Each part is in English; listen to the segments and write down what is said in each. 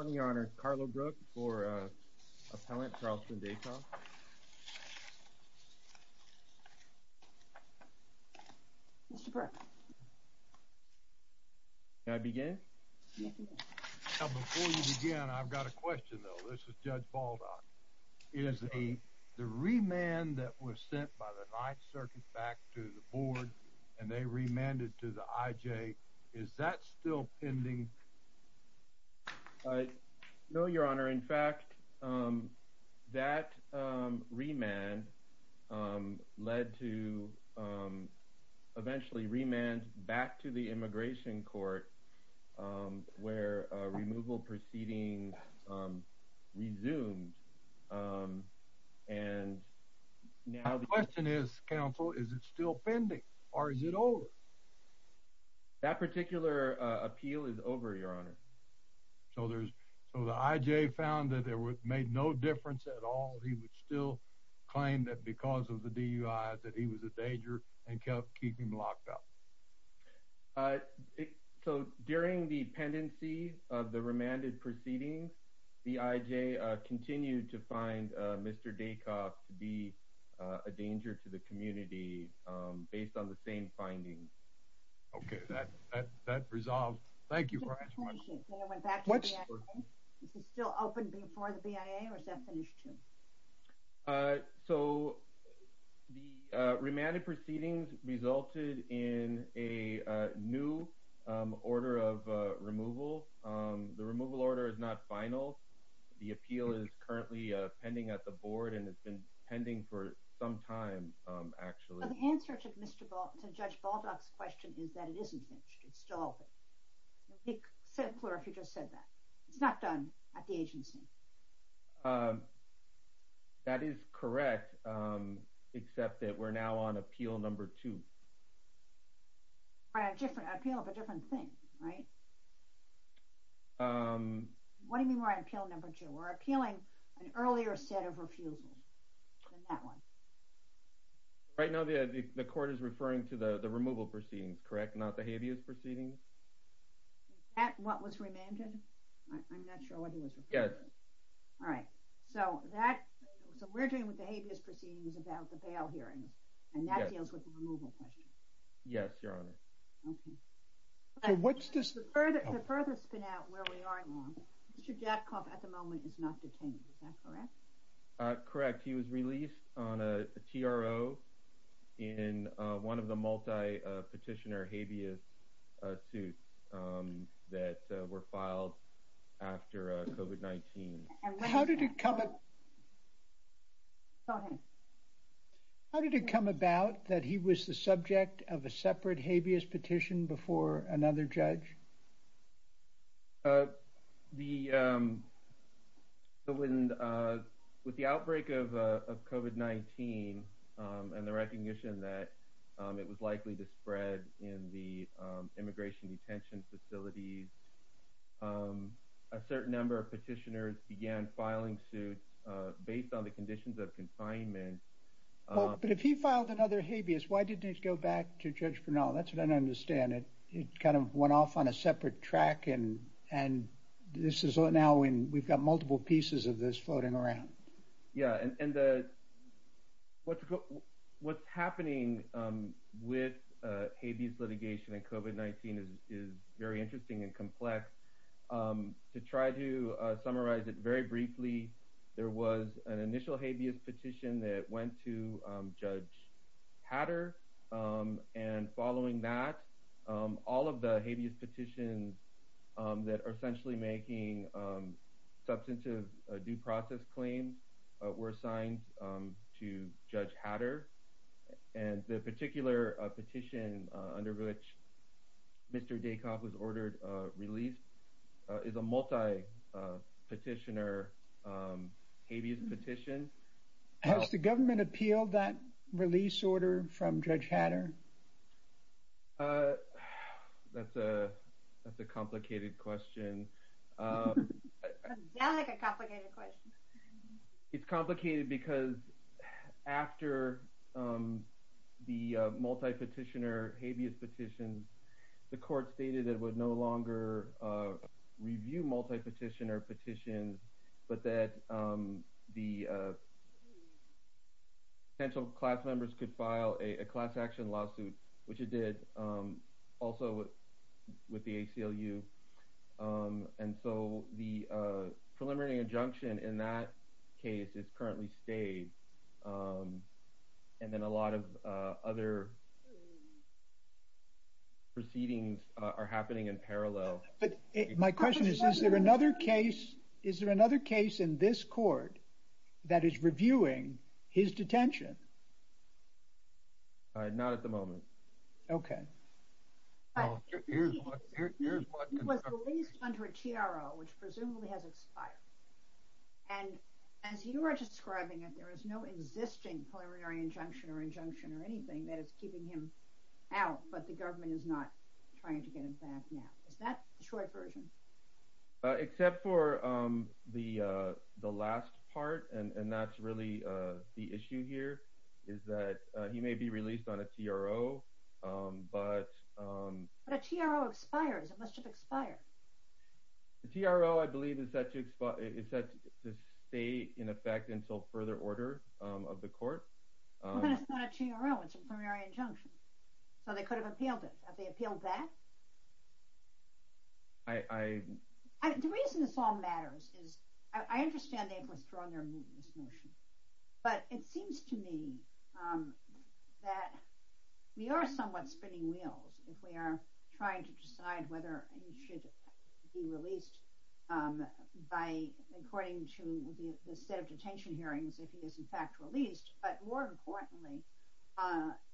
on your honor Carlo Brooke for appellant Charleston Dacoff. Before you begin I've got a question though this is Judge Baldock. Is the remand that was sent by the Ninth Circuit back to the board and they remanded to the IJ is that still pending? No your honor in fact that remand led to eventually remand back to the immigration court where removal proceedings resumed and now the question is counsel is it still pending or is it over? That particular appeal is over your honor. So there's so the IJ found that there was made no difference at all he would still claim that because of the DUI that he was a danger and kept keeping locked up. So during the pendency of the remanded proceedings the IJ continued to find Mr. Dacoff to be a danger to the community based on the same findings. Okay that that resolved. Thank you. So the remanded proceedings resulted in a new order of removal. The removal order is not final the appeal is currently pending at the board and it's been pending for some time actually. The answer to Judge Baldock's question is that it isn't finished. It's not done at the agency. That is correct except that we're now on appeal number two. A different appeal of a appealing an earlier set of refusals. Right now the court is referring to the the removal proceedings correct not the habeas proceedings. That what was remanded? Yes. All right so that so we're doing with the habeas proceedings about the bail hearings and that deals with the removal question. Yes your honor. What's this? Mr. Dacoff at the moment is not detained is that correct? Correct he was released on a TRO in one of the multi petitioner habeas suits that were filed after COVID-19. How did it come about that he was the subject of a petition before another judge? With the outbreak of COVID-19 and the recognition that it was likely to spread in the immigration detention facilities a certain number of petitioners began filing suits based on the conditions of confinement. But if he filed another habeas why didn't it go back to Judge Hatter? I don't understand it. It kind of went off on a separate track and and this is what now when we've got multiple pieces of this floating around. Yeah and what what's happening with habeas litigation and COVID-19 is very interesting and complex. To try to summarize it very briefly there was an initial habeas petition that went to Judge Hatter and following that all of the habeas petitions that are essentially making substantive due process claims were assigned to Judge Hatter and the particular petition under which Mr. released is a multi petitioner habeas petition. Has the government appealed that release order from Judge Hatter? That's a complicated question. It's complicated because after the multi petitioner habeas petitions the court stated it would no longer review multi petitioner petitions but that the potential class members could file a class action lawsuit which it did also with the ACLU and so the preliminary injunction in that case is currently stayed and then a lot of other proceedings are happening in parallel. But my question is is there another case is there another case in this court that is reviewing his detention? Not at the moment. Okay. He was released under a TRO which presumably has expired and as you are describing it there is no existing preliminary injunction or injunction or anything that is keeping him out but the government is not trying to get him back now. Is that the short version? Except for the the last part and that's really the issue here is that he may be released on a TRO. But a TRO expires it must have until further order of the court. But it's not a TRO, it's a preliminary injunction. So they could have appealed it. Have they appealed that? The reason this all matters is I understand they've withdrawn their motion but it seems to me that we are somewhat spinning wheels if we are trying to decide whether he should be released by according to the set of detention hearings if he is in fact released but more importantly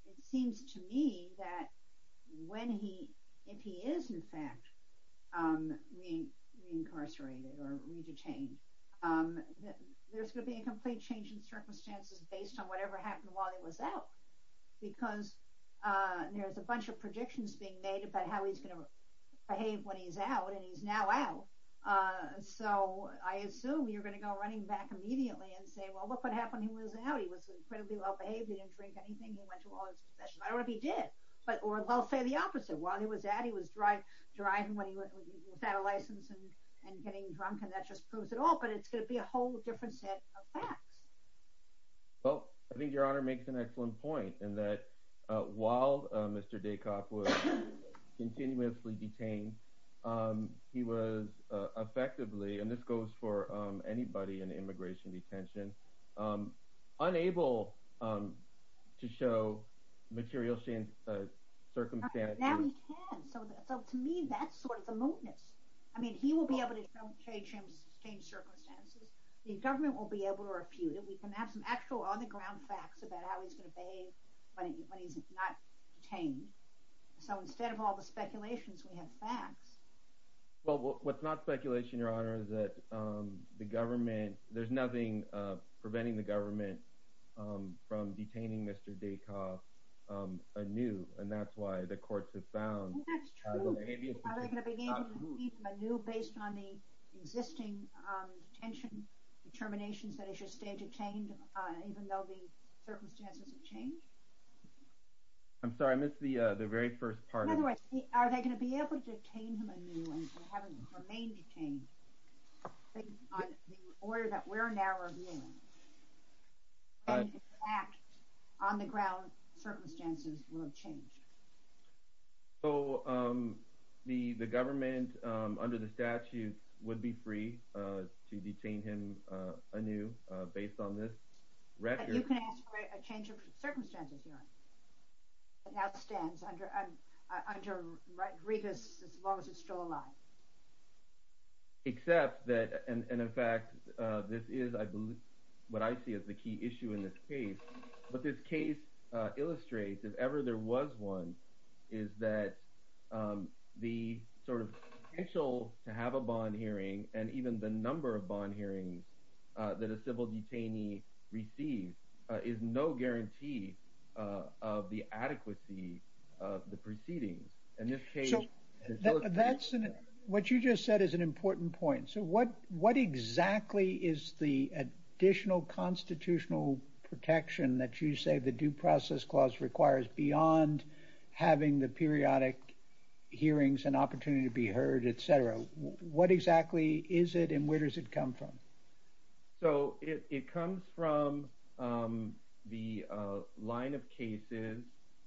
it seems to me that when he if he is in fact reincarcerated or retained there's gonna be a complete change in circumstances based on whatever happened while he was out because there's a bunch of predictions being made about how he's gonna behave when he's out and he's now out so I assume you're gonna go running back immediately and say well look what happened he was out he was incredibly well behaved he didn't drink anything he went to all his possessions. I don't know if he did. Or I'll say the opposite. While he was out he was driving without a license and getting drunk and that just proves it all but it's gonna be a whole different set of facts. Well I think your honor makes an excellent point in that while Mr. Daycock was continuously detained he was effectively and this goes for anybody in the immigration detention unable to show material circumstances. Now he can. So to me that's sort of the mootness. I mean he will be able to change circumstances. The government will be able to refute it. We can have some actual on the ground facts about how he's going to behave when he's not detained. So instead of all the speculations we have facts. Well what's not speculation your honor is that the government there's nothing preventing the government from detaining Mr. Daycock anew and that's why the courts have found that's true. Are they going to be able to detain him anew based on the existing detention determinations that he should stay detained even though the circumstances have changed? I'm sorry I missed the very first part of it. By the way are they going to be able to detain him anew and have him remain detained on the order that we're now reviewing? So the government under the statute would be free to detain him anew based on this record. But you can ask for a change of circumstances your honor. It now stands under Regas as long as it's still alive. Except that and in fact this is I believe what I see as the key issue in this case. What this case illustrates if ever there was one is that the sort of potential to have a bond hearing and even the number of bond hearings that a civil detainee receives is no guarantee of the adequacy of the proceedings. So that's what you just said is an important point. So what what exactly is the additional constitutional protection that you say the Due Process Clause requires beyond having the periodic hearings and opportunity to be heard etc. What exactly is it and where does it come from? So it comes from the line of cases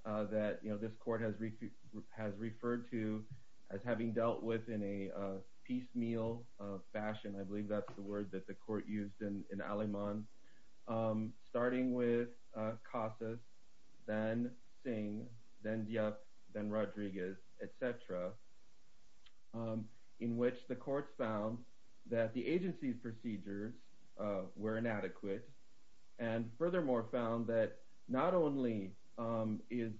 that this court has referred to as having dealt with in a piecemeal fashion. I believe that's the word that the court used in Aleman starting with Casas, then Singh, then Diop, then Rodriguez etc. In which the courts found that the agency's procedures were inadequate and furthermore found that not only is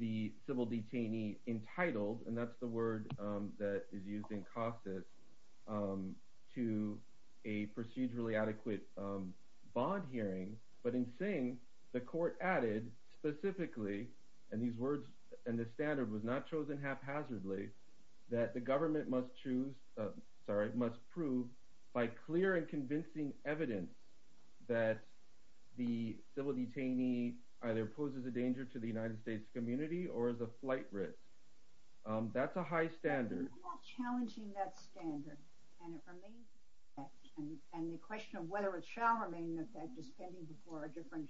the civil detainee entitled and that's the word that is used in Casas to a procedurally adequate bond hearing but in Singh the court added specifically and these words and the standard was not chosen haphazardly. That the government must choose, sorry, must prove by clear and convincing evidence that the civil detainee either poses a danger to the United States community or is a flight risk. That's a high standard. Challenging that standard and the question of whether it shall remain in effect is pending before a different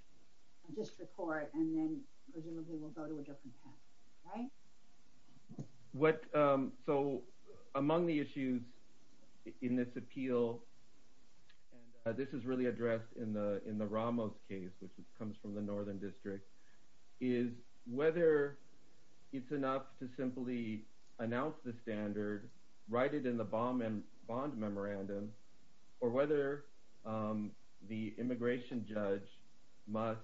district court and then presumably we'll go to a different path, right? What, so among the issues in this appeal, and this is really addressed in the Ramos case which comes from the Northern District, is whether it's enough to simply announce the standard, write it in the bond memorandum or whether the immigration judge must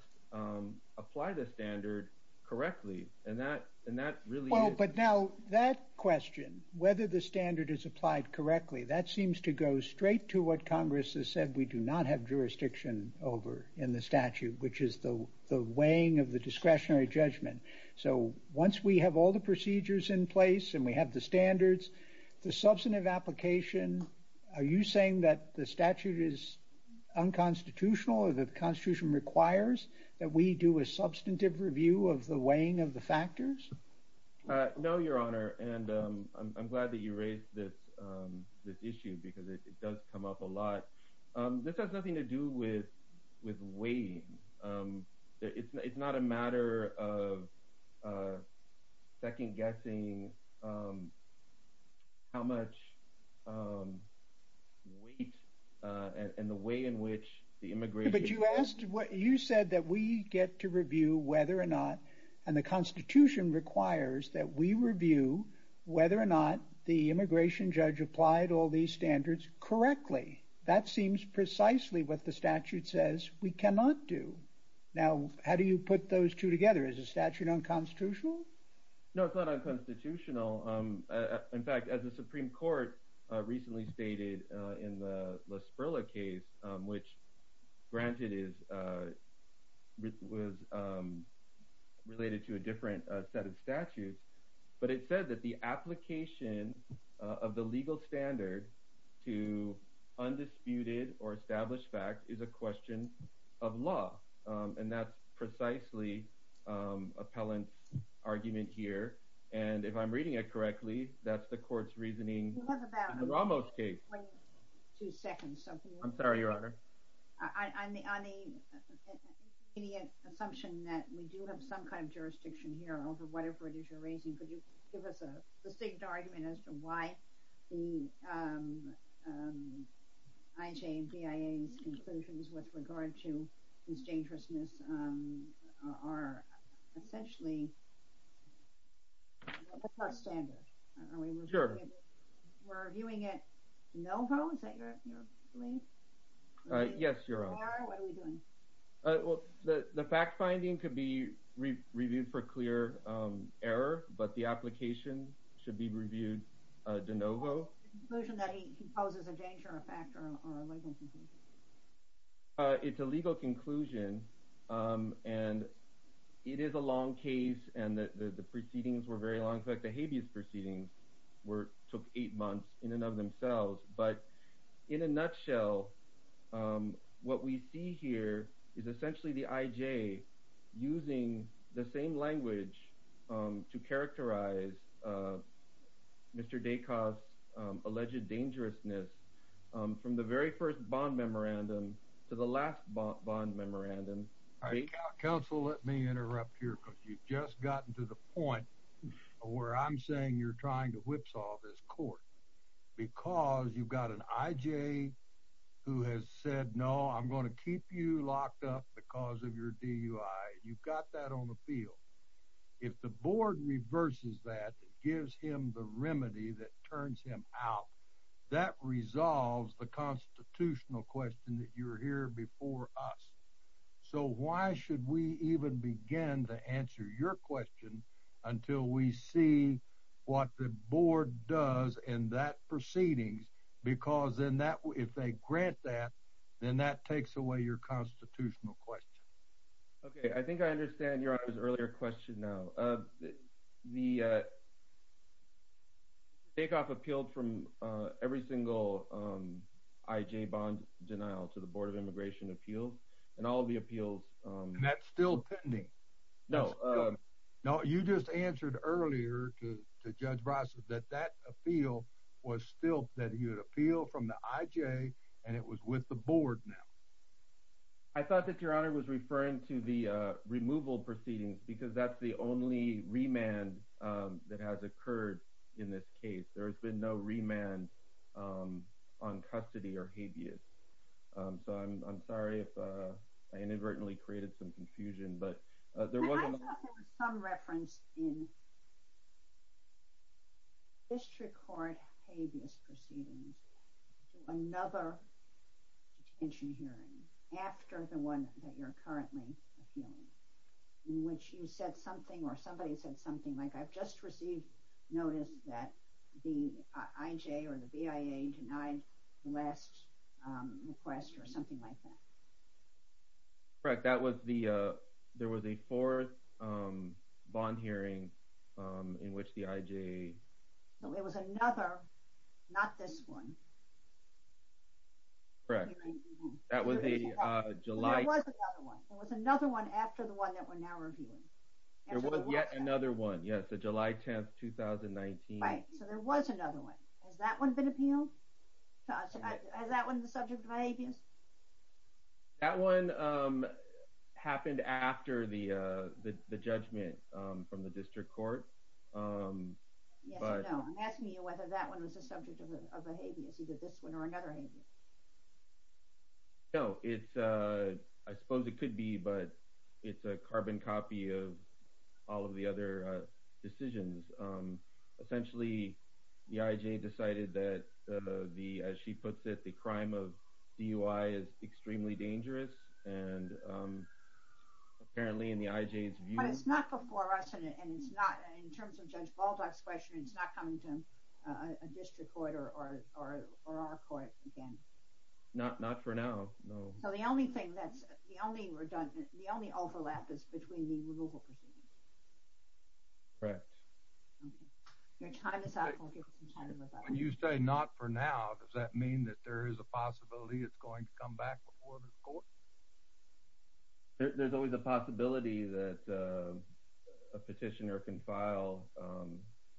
apply the standard correctly and that really is... But now that question, whether the standard is applied correctly, that seems to go straight to what Congress has said we do not have jurisdiction over in the statute which is the weighing of the discretionary judgment. So once we have all the procedures in place and we have the standards, the substantive application, are you saying that the statute is unconstitutional or the constitution requires that we do a substantive review of the weighing of the factors? No, your honor, and I'm glad that you raised this issue because it does come up a lot. This has nothing to do with weighing. It's not a matter of second guessing how much weight and the way in which the immigration... But you asked, you said that we get to review whether or not, and the constitution requires that we review whether or not the immigration judge applied all these standards correctly. That seems precisely what the statute says we cannot do. Now, how do you put those two together? Is the statute unconstitutional? No, it's not unconstitutional. In fact, as the Supreme Court recently stated in the LaSparilla case, which granted is related to a different set of statutes, but it said that the application of the legal standard to undisputed or established fact is a question of law. And that's precisely appellant argument here. And if I'm reading it correctly, that's the court's reasoning. It was about... The Ramos case. Two seconds, so... I'm sorry, your honor. On the immediate assumption that we do have some kind of jurisdiction here over whatever it is you're raising, could you give us a distinct argument as to why the IJ and BIA's conclusions with regard to immigration's dangerousness are essentially above our standard? Are we reviewing it de novo? Is that your belief? Yes, your honor. What are we doing? The fact-finding could be reviewed for clear error, but the application should be reviewed de novo. Is it a conclusion that he composes a danger, a fact, or a legal conclusion? It's a legal conclusion, and it is a long case, and the proceedings were very long. In fact, the habeas proceedings took eight months in and of themselves. In a nutshell, what we see here is essentially the IJ using the same language to characterize Mr. Dacos' alleged dangerousness from the very first bond memorandum to the last bond memorandum. Counsel, let me interrupt here, because you've just gotten to the point where I'm saying you're trying to whipsaw this court. Because you've got an IJ who has said, No, I'm going to keep you locked up because of your DUI. You've got that on the field. If the board reverses that, gives him the remedy that turns him out, that resolves the constitutional question that you're here before us. So why should we even begin to answer your question until we see what the board does in that proceedings? Because if they grant that, then that takes away your constitutional question. Okay, I think I understand Your Honor's earlier question now. The Dacoff appealed from every single IJ bond denial to the Board of Immigration Appeals, and all of the appeals— And that's still pending. No. No, you just answered earlier to Judge Bryce that that appeal was still— that he had appealed from the IJ, and it was with the board now. I thought that Your Honor was referring to the removal proceedings, because that's the only remand that has occurred in this case. There has been no remand on custody or habeas. So I'm sorry if I inadvertently created some confusion. I thought there was some reference in district court habeas proceedings to another detention hearing after the one that you're currently appealing, in which you said something or somebody said something like, I've just received notice that the IJ or the BIA denied the last request or something like that. Correct. There was a fourth bond hearing in which the IJ— No, it was another, not this one. Correct. That was the July— There was another one. There was another one after the one that we're now reviewing. There was yet another one, yes, the July 10th, 2019. Right. So there was another one. Has that one been appealed? Has that one been the subject of habeas? That one happened after the judgment from the district court. Yes or no. I'm asking you whether that one was the subject of a habeas, either this one or another habeas. No, I suppose it could be, but it's a carbon copy of all of the other decisions. Essentially, the IJ decided that, as she puts it, the crime of DUI is extremely dangerous, and apparently in the IJ's view— But it's not before us, and it's not, in terms of Judge Baldock's question, it's not coming to a district court or our court again. Not for now, no. So the only thing that's—the only overlap is between the removal proceedings. Correct. Your time is up. I'll give you some time to look up. When you say not for now, does that mean that there is a possibility it's going to come back before the court? There's always a possibility that a petitioner can file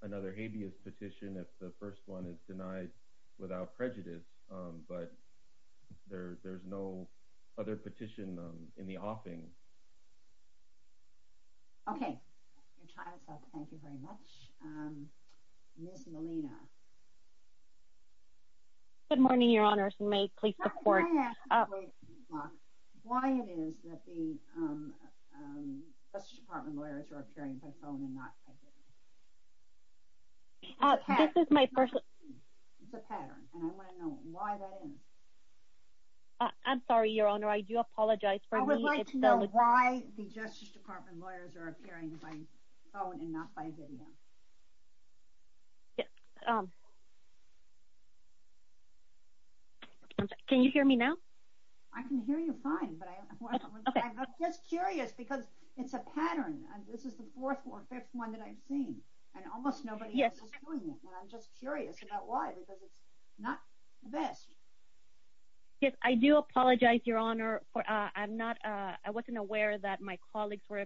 another habeas petition if the first one is denied without prejudice, but there's no other petition in the offing. Okay. Your time is up. Thank you very much. Ms. Molina. Good morning, Your Honor. May you please support— Why it is that the Justice Department lawyers are appearing by phone and not by video? This is my personal— It's a pattern, and I want to know why that is. I'm sorry, Your Honor. I do apologize for— I would like to know why the Justice Department lawyers are appearing by phone and not by video. Yes. Can you hear me now? I can hear you fine, but I'm just curious because it's a pattern, and this is the fourth or fifth one that I've seen, and almost nobody else is doing it, and I'm just curious about why, because it's not the best. Yes, I do apologize, Your Honor, for—I'm not—I wasn't aware that my colleagues were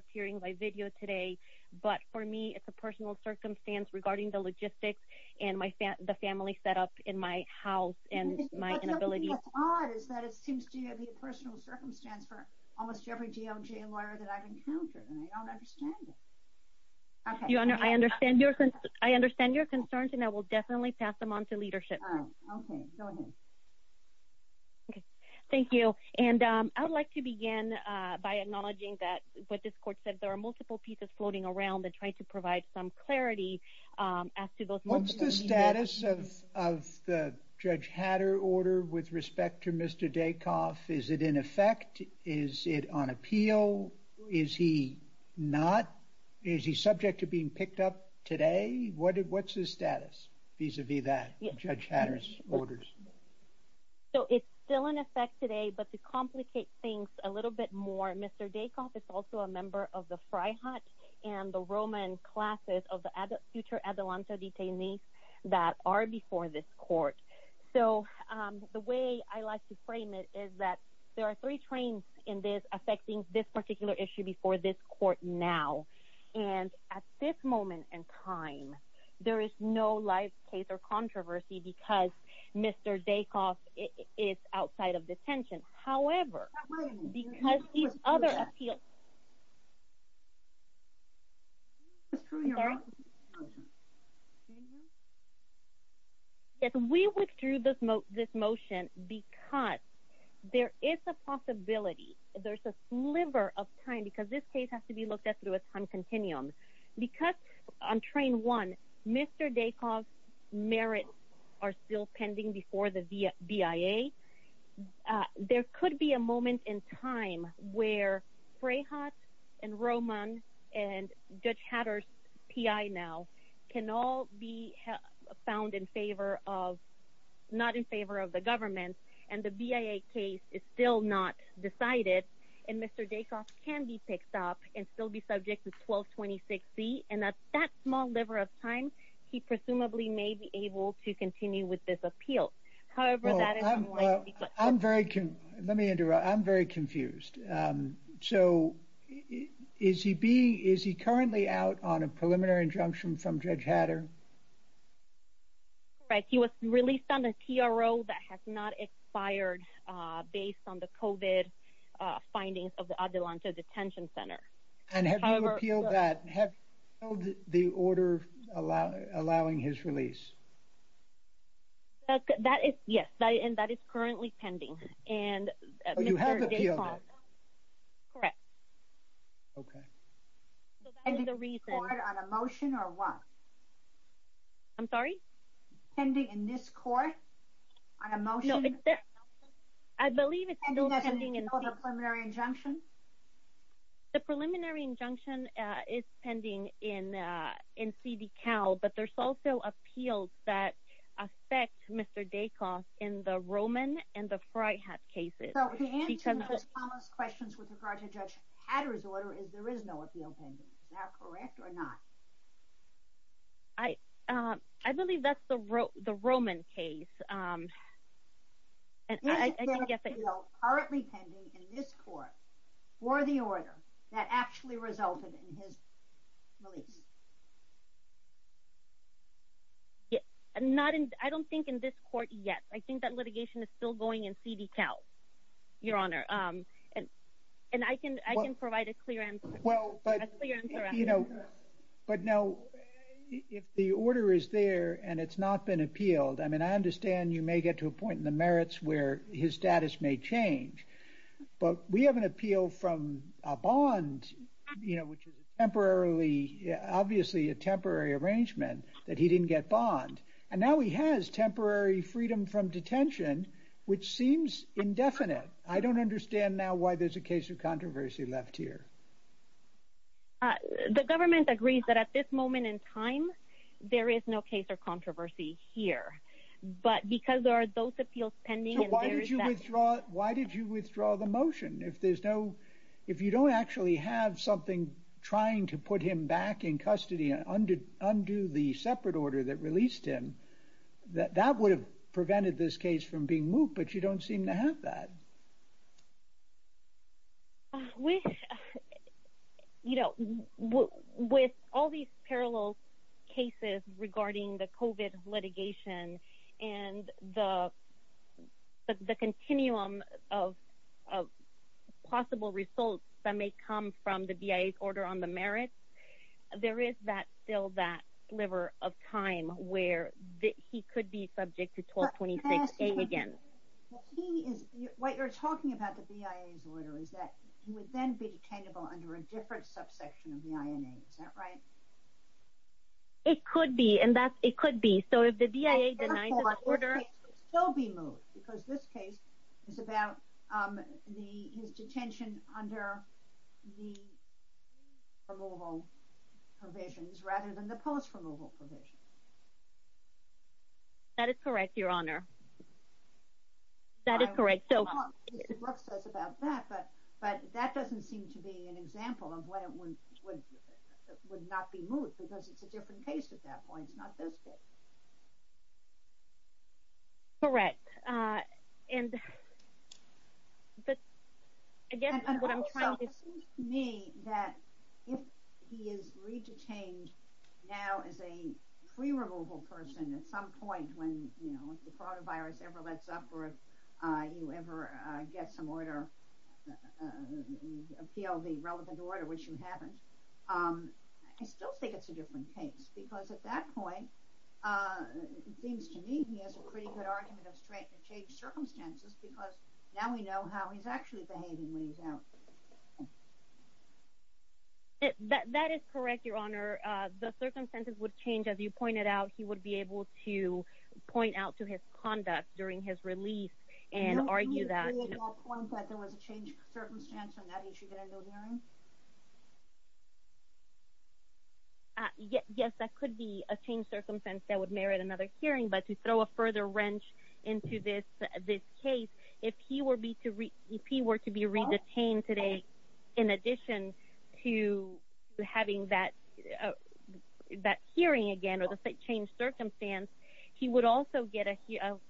regarding the logistics and the family setup in my house and my inability— What's odd is that it seems to be a personal circumstance for almost every DOJ lawyer that I've encountered, and I don't understand it. Your Honor, I understand your concerns, and I will definitely pass them on to leadership. Oh, okay. Go ahead. Okay. Thank you, and I would like to begin by acknowledging that, what this court said, there are multiple pieces floating around that try to provide some clarity as to those— What's the status of the Judge Hatterr order with respect to Mr. Daycoff? Is it in effect? Is it on appeal? Is he not—is he subject to being picked up today? What's his status vis-a-vis that, Judge Hatterr's orders? So it's still in effect today, but to complicate things a little bit more, Mr. Daycoff is also a member of the Fry Hut and the Roman classes of the future Adelanto detainees that are before this court. So the way I like to frame it is that there are three trains in this affecting this particular issue before this court now, and at this moment in time, there is no live case or controversy because Mr. Daycoff is outside of detention. However, because these other appeals— We withdrew this motion because there is a possibility, there's a sliver of time—because this case has to be looked at through a time continuum—because on train one, Mr. Daycoff's BIA, there could be a moment in time where Fry Hut and Roman and Judge Hatterr's PI now can all be found in favor of—not in favor of the government, and the BIA case is still not decided, and Mr. Daycoff can be picked up and still be subject to 1226C, and at that small sliver of time, he presumably may be able to continue with this appeal. However, that is— Well, I'm very—let me interrupt. I'm very confused. So is he currently out on a preliminary injunction from Judge Hatterr? Correct. He was released on a TRO that has not expired based on the COVID findings of the Adelanto Detention Center. And have you appealed that? Have you appealed the order allowing his release? That is—yes, and that is currently pending. And Mr. Daycoff— Oh, you have appealed it? Correct. Okay. So that is the reason— Pending in court on a motion or what? I'm sorry? Pending in this court on a motion? No, it's a—I believe it's— Pending as in a no preliminary injunction? The preliminary injunction is pending in C.D. Cal, but there's also appeals that affect Mr. Daycoff in the Roman and the Fryhat cases. So the answer to Ms. Thomas' questions with regard to Judge Hatterr's order is there is no appeal pending. Is that correct or not? I believe that's the Roman case. Is there an appeal currently pending in this court for the order that actually resulted in his release? Yes, not in—I don't think in this court yet. I think that litigation is still going in C.D. Cal, Your Honor. And I can provide a clear answer. Well, but, you know, but now if the order is there and it's not been appealed, I mean, I understand you may get to a point in the merits where his status may change. But we have an appeal from a bond, you know, which is temporarily—obviously a temporary arrangement that he didn't get bond. And now he has temporary freedom from detention, which seems indefinite. I don't understand now why there's a case of controversy left here. The government agrees that at this moment in time, there is no case of controversy here. But because there are those appeals pending— So why did you withdraw—why did you withdraw the motion? If there's no—if you don't actually have something trying to put him back in custody and undo the separate order that released him, that would have prevented this case from being moved, but you don't seem to have that. With, you know, with all these parallel cases regarding the COVID litigation and the continuum of possible results that may come from the BIA's order on the merits, there is still that sliver of time where he could be subject to 1226A again. Well, he is—what you're talking about, the BIA's order, is that he would then be detainable under a different subsection of the INA. Is that right? It could be, and that—it could be. So if the BIA denies the order— It could still be moved, because this case is about his detention under the removal provisions rather than the post-removal provisions. That is correct, Your Honor. That is correct. So— Well, it's about that, but that doesn't seem to be an example of when it would not be moved, because it's a different case at that point. It's not this case. Correct. And, but, again, what I'm trying to— It seems to me that if he is re-detained now as a pre-removal person at some point when, you know, if the coronavirus ever lets up or if you ever get some order—appeal the relevant order, which you haven't, I still think it's a different case, because at that point, it seems to me he has a pretty good argument of strength to change circumstances, because now we know how he's actually behaving when he's out. That is correct, Your Honor. The circumstances would change. As you pointed out, he would be able to point out to his conduct during his release and argue that— No, can you create that point that there was a changed circumstance on that issue that I'm not hearing? Yes, that could be a changed circumstance that would merit another hearing, but to throw a to be re-detained today, in addition to having that hearing again or the changed circumstance, he would also get a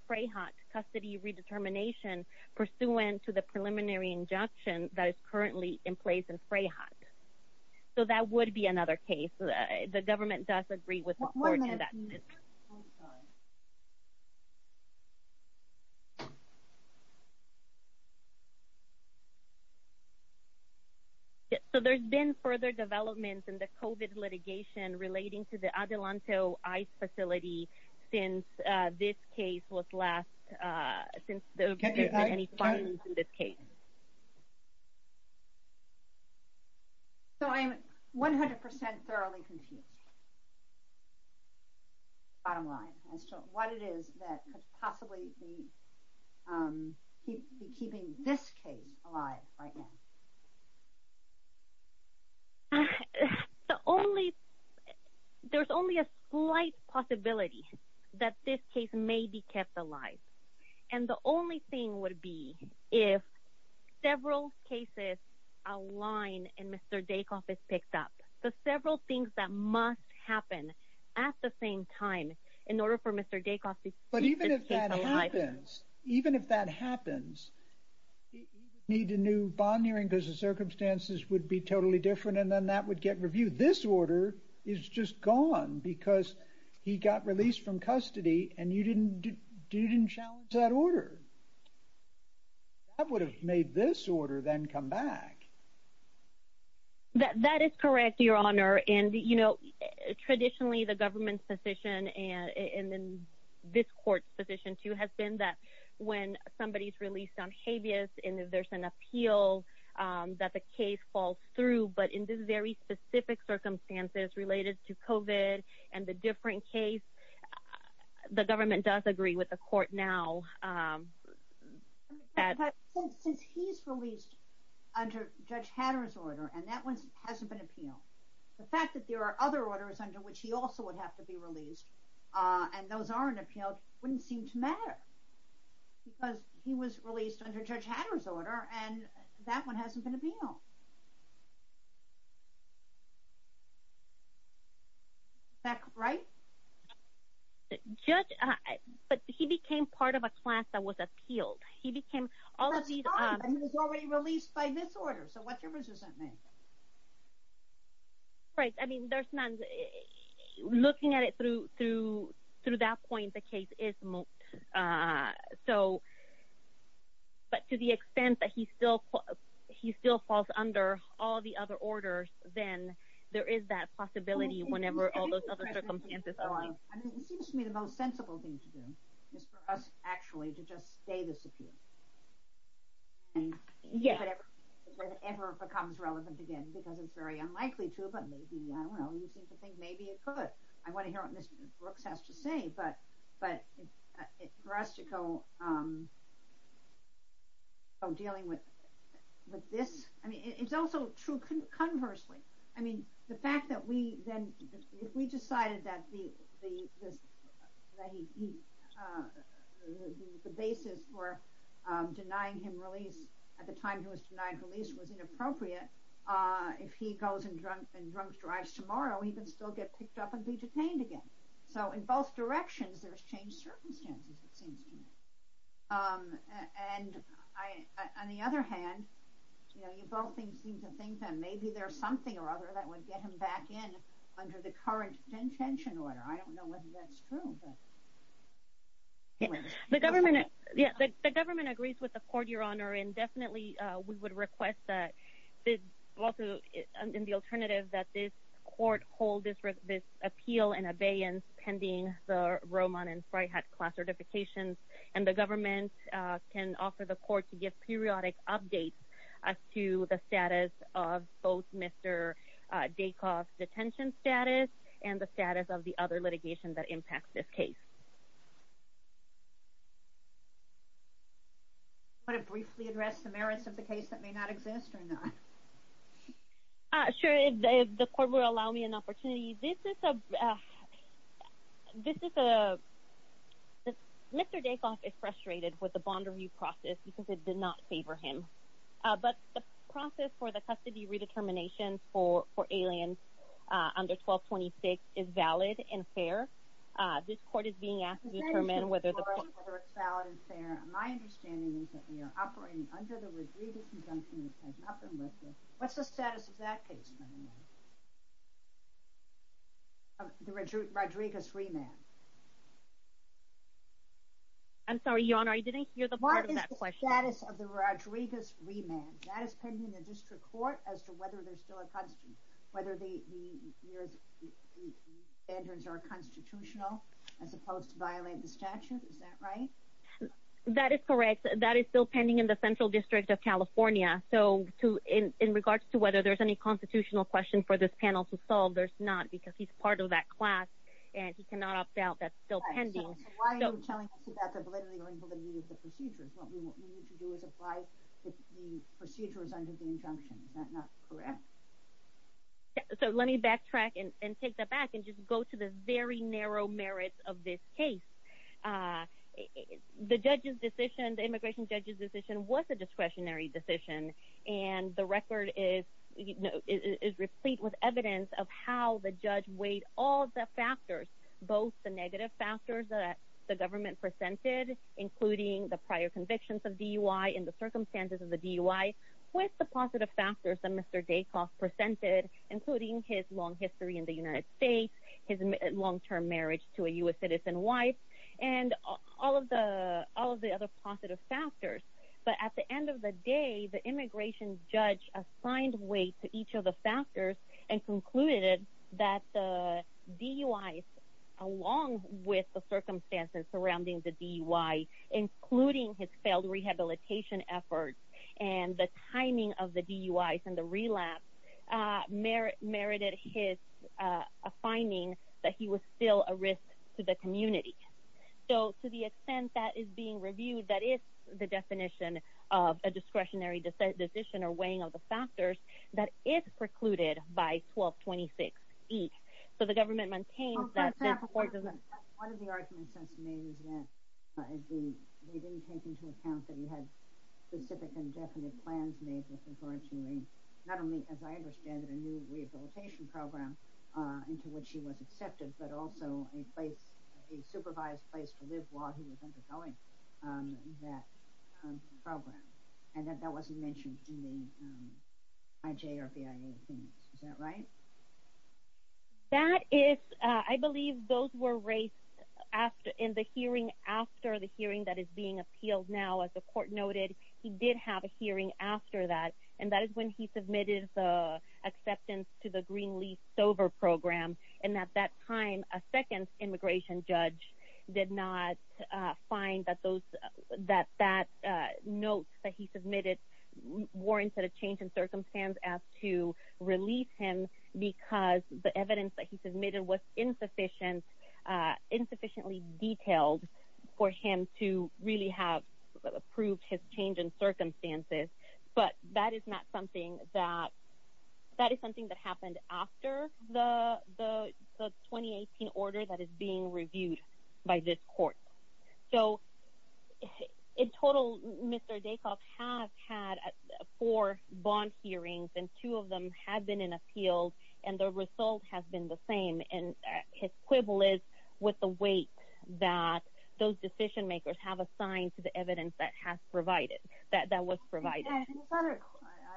FRAHOT custody redetermination pursuant to the preliminary injunction that is currently in place in FRAHOT. So that would be another case. The government does agree with the court in that sense. One minute, please. Yes, so there's been further development in the COVID litigation relating to the Adelanto ICE facility since this case was last— Since there was any violence in this case. So I'm 100% thoroughly confused, Your Honor, as to what it is that could possibly be keeping this case alive right now. There's only a slight possibility that this case may be kept alive, and the only thing would be if several cases align and Mr. Daycoff is picked up. So several things that must happen at the same time in order for Mr. Daycoff to keep this case alive. But even if that happens, even if that happens, he would need a new bond hearing because the circumstances would be totally different, and then that would get reviewed. This order is just gone because he got released from custody, and you didn't challenge that order. That would have made this order then come back. That is correct, Your Honor. And, you know, traditionally the government's position, and then this court's position too, has been that when somebody's released on habeas and there's an appeal that the case falls through, but in this very specific circumstances related to COVID and the different case, the government does agree with the court now. Since he's released under Judge Hatter's order, and that one hasn't been appealed, the fact that there are other orders under which he also would have to be released, and those aren't appealed, wouldn't seem to matter because he was released under Judge Hatter's order, and that one hasn't been appealed. Is that correct? Judge, but he became part of a class that was appealed. He became... That's fine, but he was already released by this order, so what's your resistance? Right, I mean, there's none. Looking at it through that point, the case is moot, so, but to the extent that he still falls under all the other orders, then there is that possibility whenever all those other circumstances allow. I mean, it seems to me the most sensible thing to do is for us, actually, to just stay this appeal. And if it ever becomes relevant again, because it's very unlikely to, but maybe, I don't know, you seem to think maybe it could. I want to hear what Mr. Brooks has to say, but for us to go dealing with this, I mean, it's also true conversely. I mean, the fact that we, then, if we decided that the basis for denying him release at the time he was denied release was inappropriate, if he goes and drunk drives tomorrow, he can still get picked up and be released. And on the other hand, you know, you both seem to think that maybe there's something or other that would get him back in under the current detention order. I don't know whether that's true. The government, yeah, the government agrees with the court, Your Honor, and definitely we would request that, also in the alternative, that this court hold this appeal in abeyance pending the Roman and Fryhat class certifications. And the government can offer the court to give periodic updates as to the status of both Mr. Daycoff's detention status and the status of the other litigation that impacts this case. Do you want to briefly address the merits of the case that may not exist or not? Sure, if the court would allow me an opportunity. This is a this is a Mr. Daycoff is frustrated with the bond review process because it did not favor him. But the process for the custody redetermination for aliens under 1226 is valid and fair. This court is being asked to determine whether it's valid and fair. My understanding is that we are operating under the Rodriguez Conjunction. What's the status of that case? I'm sorry, Your Honor, I didn't hear the part of that question. What is the status of the Rodriguez remand? That is pending in the district court as to whether there's still a constitution, whether the standards are constitutional, as opposed to violate the statute. Is that right? That is correct. That is still pending in the Central District of California. So in regards to whether there's any constitutional question for this panel to solve, there's not because he's part of that class and he cannot opt out. That's still pending. Why are you telling us about the validity or invalidity of the procedures? What we need to do is apply the procedures under the injunction. Is that not correct? So let me backtrack and take that back and just go to the very narrow merits of this case. The judge's decision, the immigration judge's decision, was a discretionary decision. And the record is replete with evidence of how the judge weighed all the factors, both the negative factors that the government presented, including the prior convictions of DUI and the circumstances of the DUI, with the positive factors that Mr. Daycoff presented, including his long history in the United States, his long-term marriage to a U.S. citizen wife, and all of the other positive factors. But at the end of the day, the immigration judge assigned weight to each of the factors and concluded that the DUI, along with the circumstances surrounding the DUI, including his failed rehabilitation efforts and the timing of So to the extent that is being reviewed, that is the definition of a discretionary decision or weighing of the factors, that is precluded by 1226E. So the government maintains that... On top of that, one of the arguments that's made is that they didn't take into account that you had specific and definite plans made with regard to not only, as I understand it, a new rehabilitation program into which he was accepted, but also a supervised place to live while he was undergoing that program, and that that wasn't mentioned in the IJ or BIA things. Is that right? That is... I believe those were raised in the hearing after the hearing that is being appealed now. As the court noted, he did have a hearing after that, and that is when he submitted the Greenleaf Sober Program, and at that time, a second immigration judge did not find that those... that that note that he submitted warrants that a change in circumstance as to release him because the evidence that he submitted was insufficiently detailed for him to really have the 2018 order that is being reviewed by this court. So in total, Mr. Dacuff has had four bond hearings, and two of them have been in appeal, and the result has been the same, and his quibble is with the weight that those decision makers have assigned to the evidence that has provided... that was provided. And his other...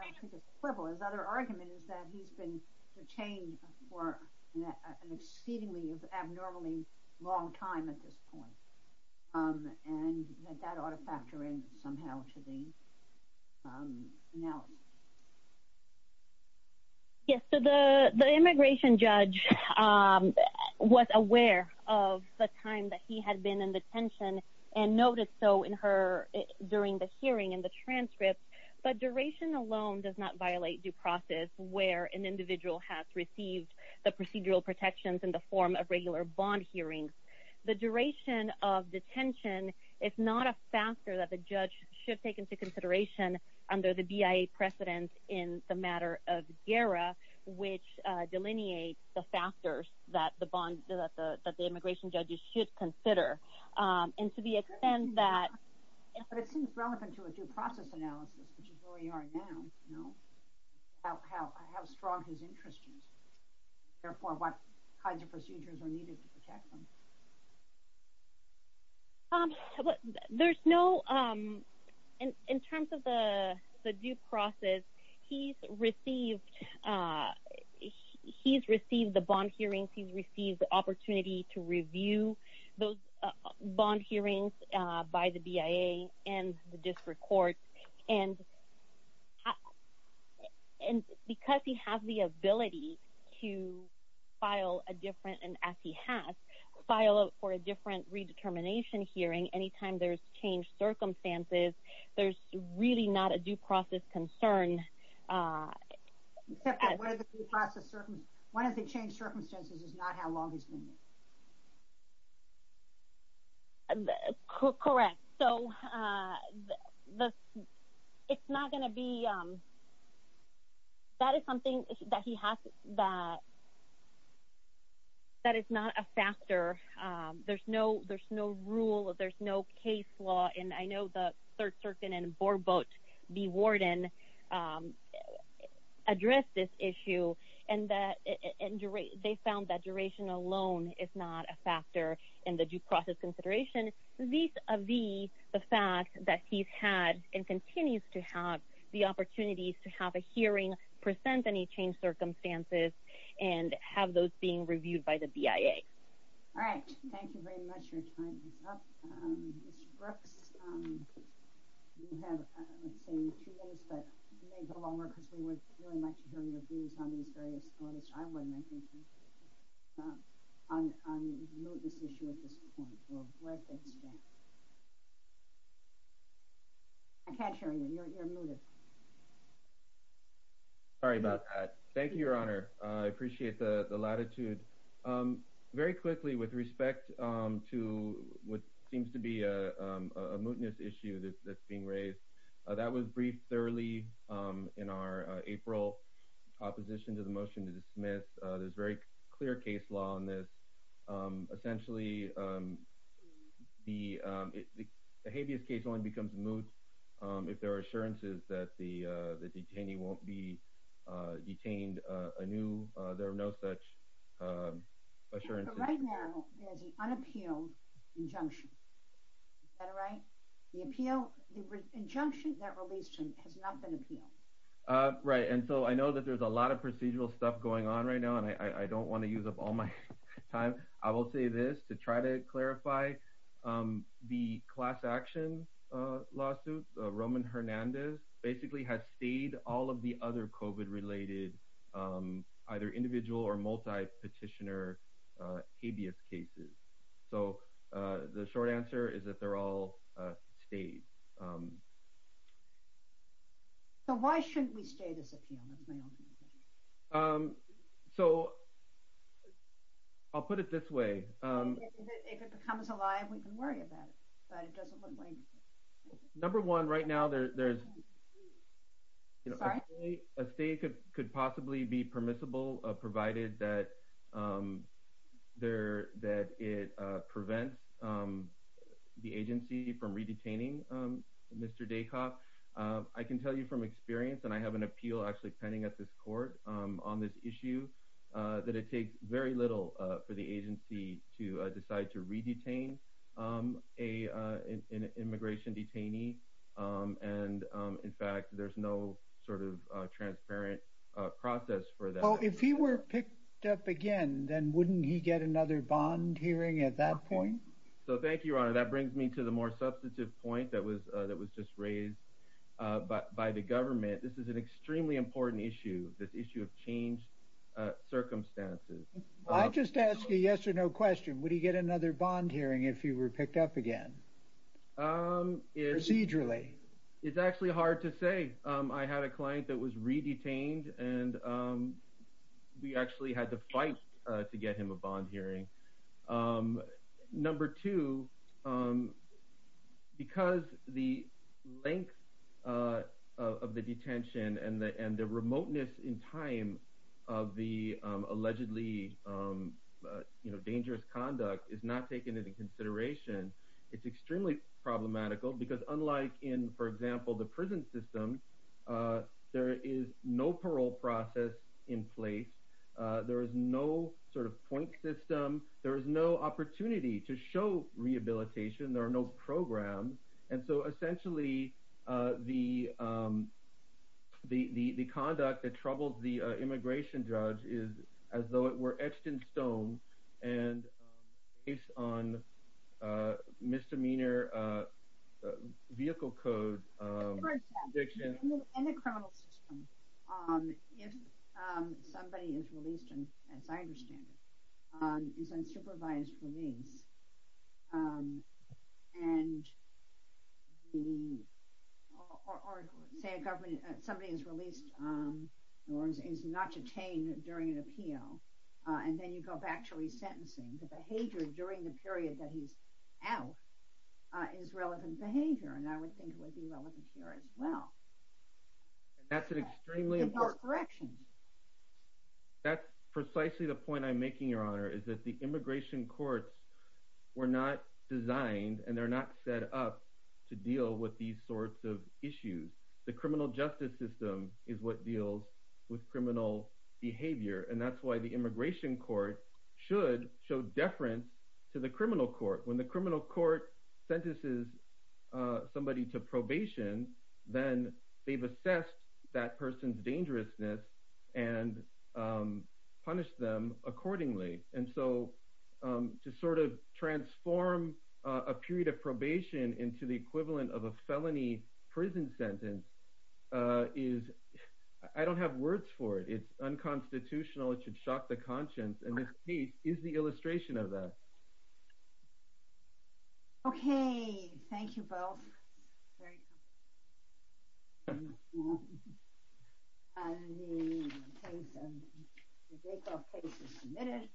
I don't think it's quibble. His other argument is that he's been detained for an exceedingly abnormally long time at this point, and that that ought to factor in somehow to the analysis. Yes, so the immigration judge was aware of the time that he had been in the hearing and the transcripts, but duration alone does not violate due process where an individual has received the procedural protections in the form of regular bond hearings. The duration of detention is not a factor that the judge should take into consideration under the BIA precedent in the matter of GERA, which delineates the factors that the bond... that the immigration judges should consider. And to the extent that... But it seems relevant to a due process analysis, which is where we are now, you know, how strong his interest is. Therefore, what kinds of procedures are needed to protect them? There's no... in terms of the due process, he's received... he's received the bond hearings. He's received the opportunity to review those bond hearings by the BIA and the district court. And because he has the ability to file a different, and as he has, file for a different redetermination hearing anytime there's changed circumstances, there's really not a due process concern. Except that one of the due process circumstances... one of the changed circumstances is not how long he's been there. Correct. So, it's not going to be... that is something that he has... that is not a factor. There's no rule, there's no case law, and I know the Third Circuit and Board Vote, the warden, addressed this issue. And they found that duration alone is not a factor in the due process consideration. Vis-a-vis the fact that he's had and continues to have the opportunities to have a hearing, present any changed circumstances, and have those being reviewed by the BIA. All right. Thank you very much. Your time is up. Ms. Brooks, you have, let's say, two minutes, but you may go longer because we would really like to hear your views on these various things. I wouldn't, I think, on this issue at this point. I can't hear you. You're muted. Sorry about that. Thank you, Your Honor. I appreciate the latitude. Very quickly, with respect to what seems to be a mootness issue that's being raised, that was briefed thoroughly in our April opposition to the motion to dismiss. There's very clear case law on this. Essentially, the habeas case only becomes moot if there are assurances that the detainee won't be detained anew. There are no such assurances. Right now, there's an unappealed injunction. Is that right? The appeal, the injunction that released him has not been appealed. Right. And so I know that there's a lot of procedural stuff going on right now, and I don't want to use up all my time. I will say this to try to clarify. The class action lawsuit, Roman Hernandez, basically has stayed all of the other COVID-related, either individual or multi-petitioner habeas cases. So the short answer is that they're all stayed. So why shouldn't we stay this appeal? That's my only question. I'll put it this way. If it becomes a lie, we can worry about it, but it doesn't look like it. Number one, right now, there's... Sorry? A stay could possibly be permissible, provided that it prevents the agency from Mr. Daycock. I can tell you from experience, and I have an appeal actually pending at this court on this issue, that it takes very little for the agency to decide to re-detain an immigration detainee. And in fact, there's no sort of transparent process for that. Well, if he were picked up again, then wouldn't he get another bond hearing at that point? So thank you, Your Honor. That brings me to the more substantive point that was just raised by the government. This is an extremely important issue, this issue of changed circumstances. I'll just ask a yes or no question. Would he get another bond hearing if he were picked up again? Procedurally? It's actually hard to say. I had a client that was re-detained, and we actually had to fight to get him a bond hearing. Number two, because the length of the detention and the remoteness in time of the allegedly dangerous conduct is not taken into consideration, it's extremely problematical, because unlike in, for example, the prison system, there is no parole process in place. There is no sort of point system. There is no opportunity to show rehabilitation. There are no programs. And so essentially, the conduct that troubles the immigration judge is as though it were etched in stone and based on misdemeanor vehicle code. For example, in the criminal system, if somebody is released, and as I understand it, is unsupervised release, or say somebody is released or is not detained during an appeal, and then you go back to re-sentencing, the behavior during the period that he's out is relevant behavior. And I would think it would be relevant here as well. That's an extremely important... In those corrections. That's precisely the point I'm making, Your Honor, is that the immigration courts were not designed, and they're not set up to deal with these sorts of issues. The criminal justice system is what deals with criminal behavior, and that's why the immigration court should show deference to the criminal court. When the criminal court sentences somebody to probation, then they've assessed that person's dangerousness and punished them accordingly. And so to transform a period of probation into the equivalent of a felony prison sentence is... I don't have words for it. It's unconstitutional. It should shock the conscience. And this case is the illustration of that. Okay. Thank you both. And the case, the Dreyfus case is submitted,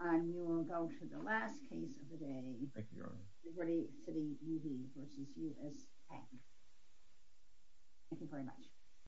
and you will go to the last case of the day. Thank you, Your Honor. Liberty City U.D. v. U.S. Patent. Thank you very much.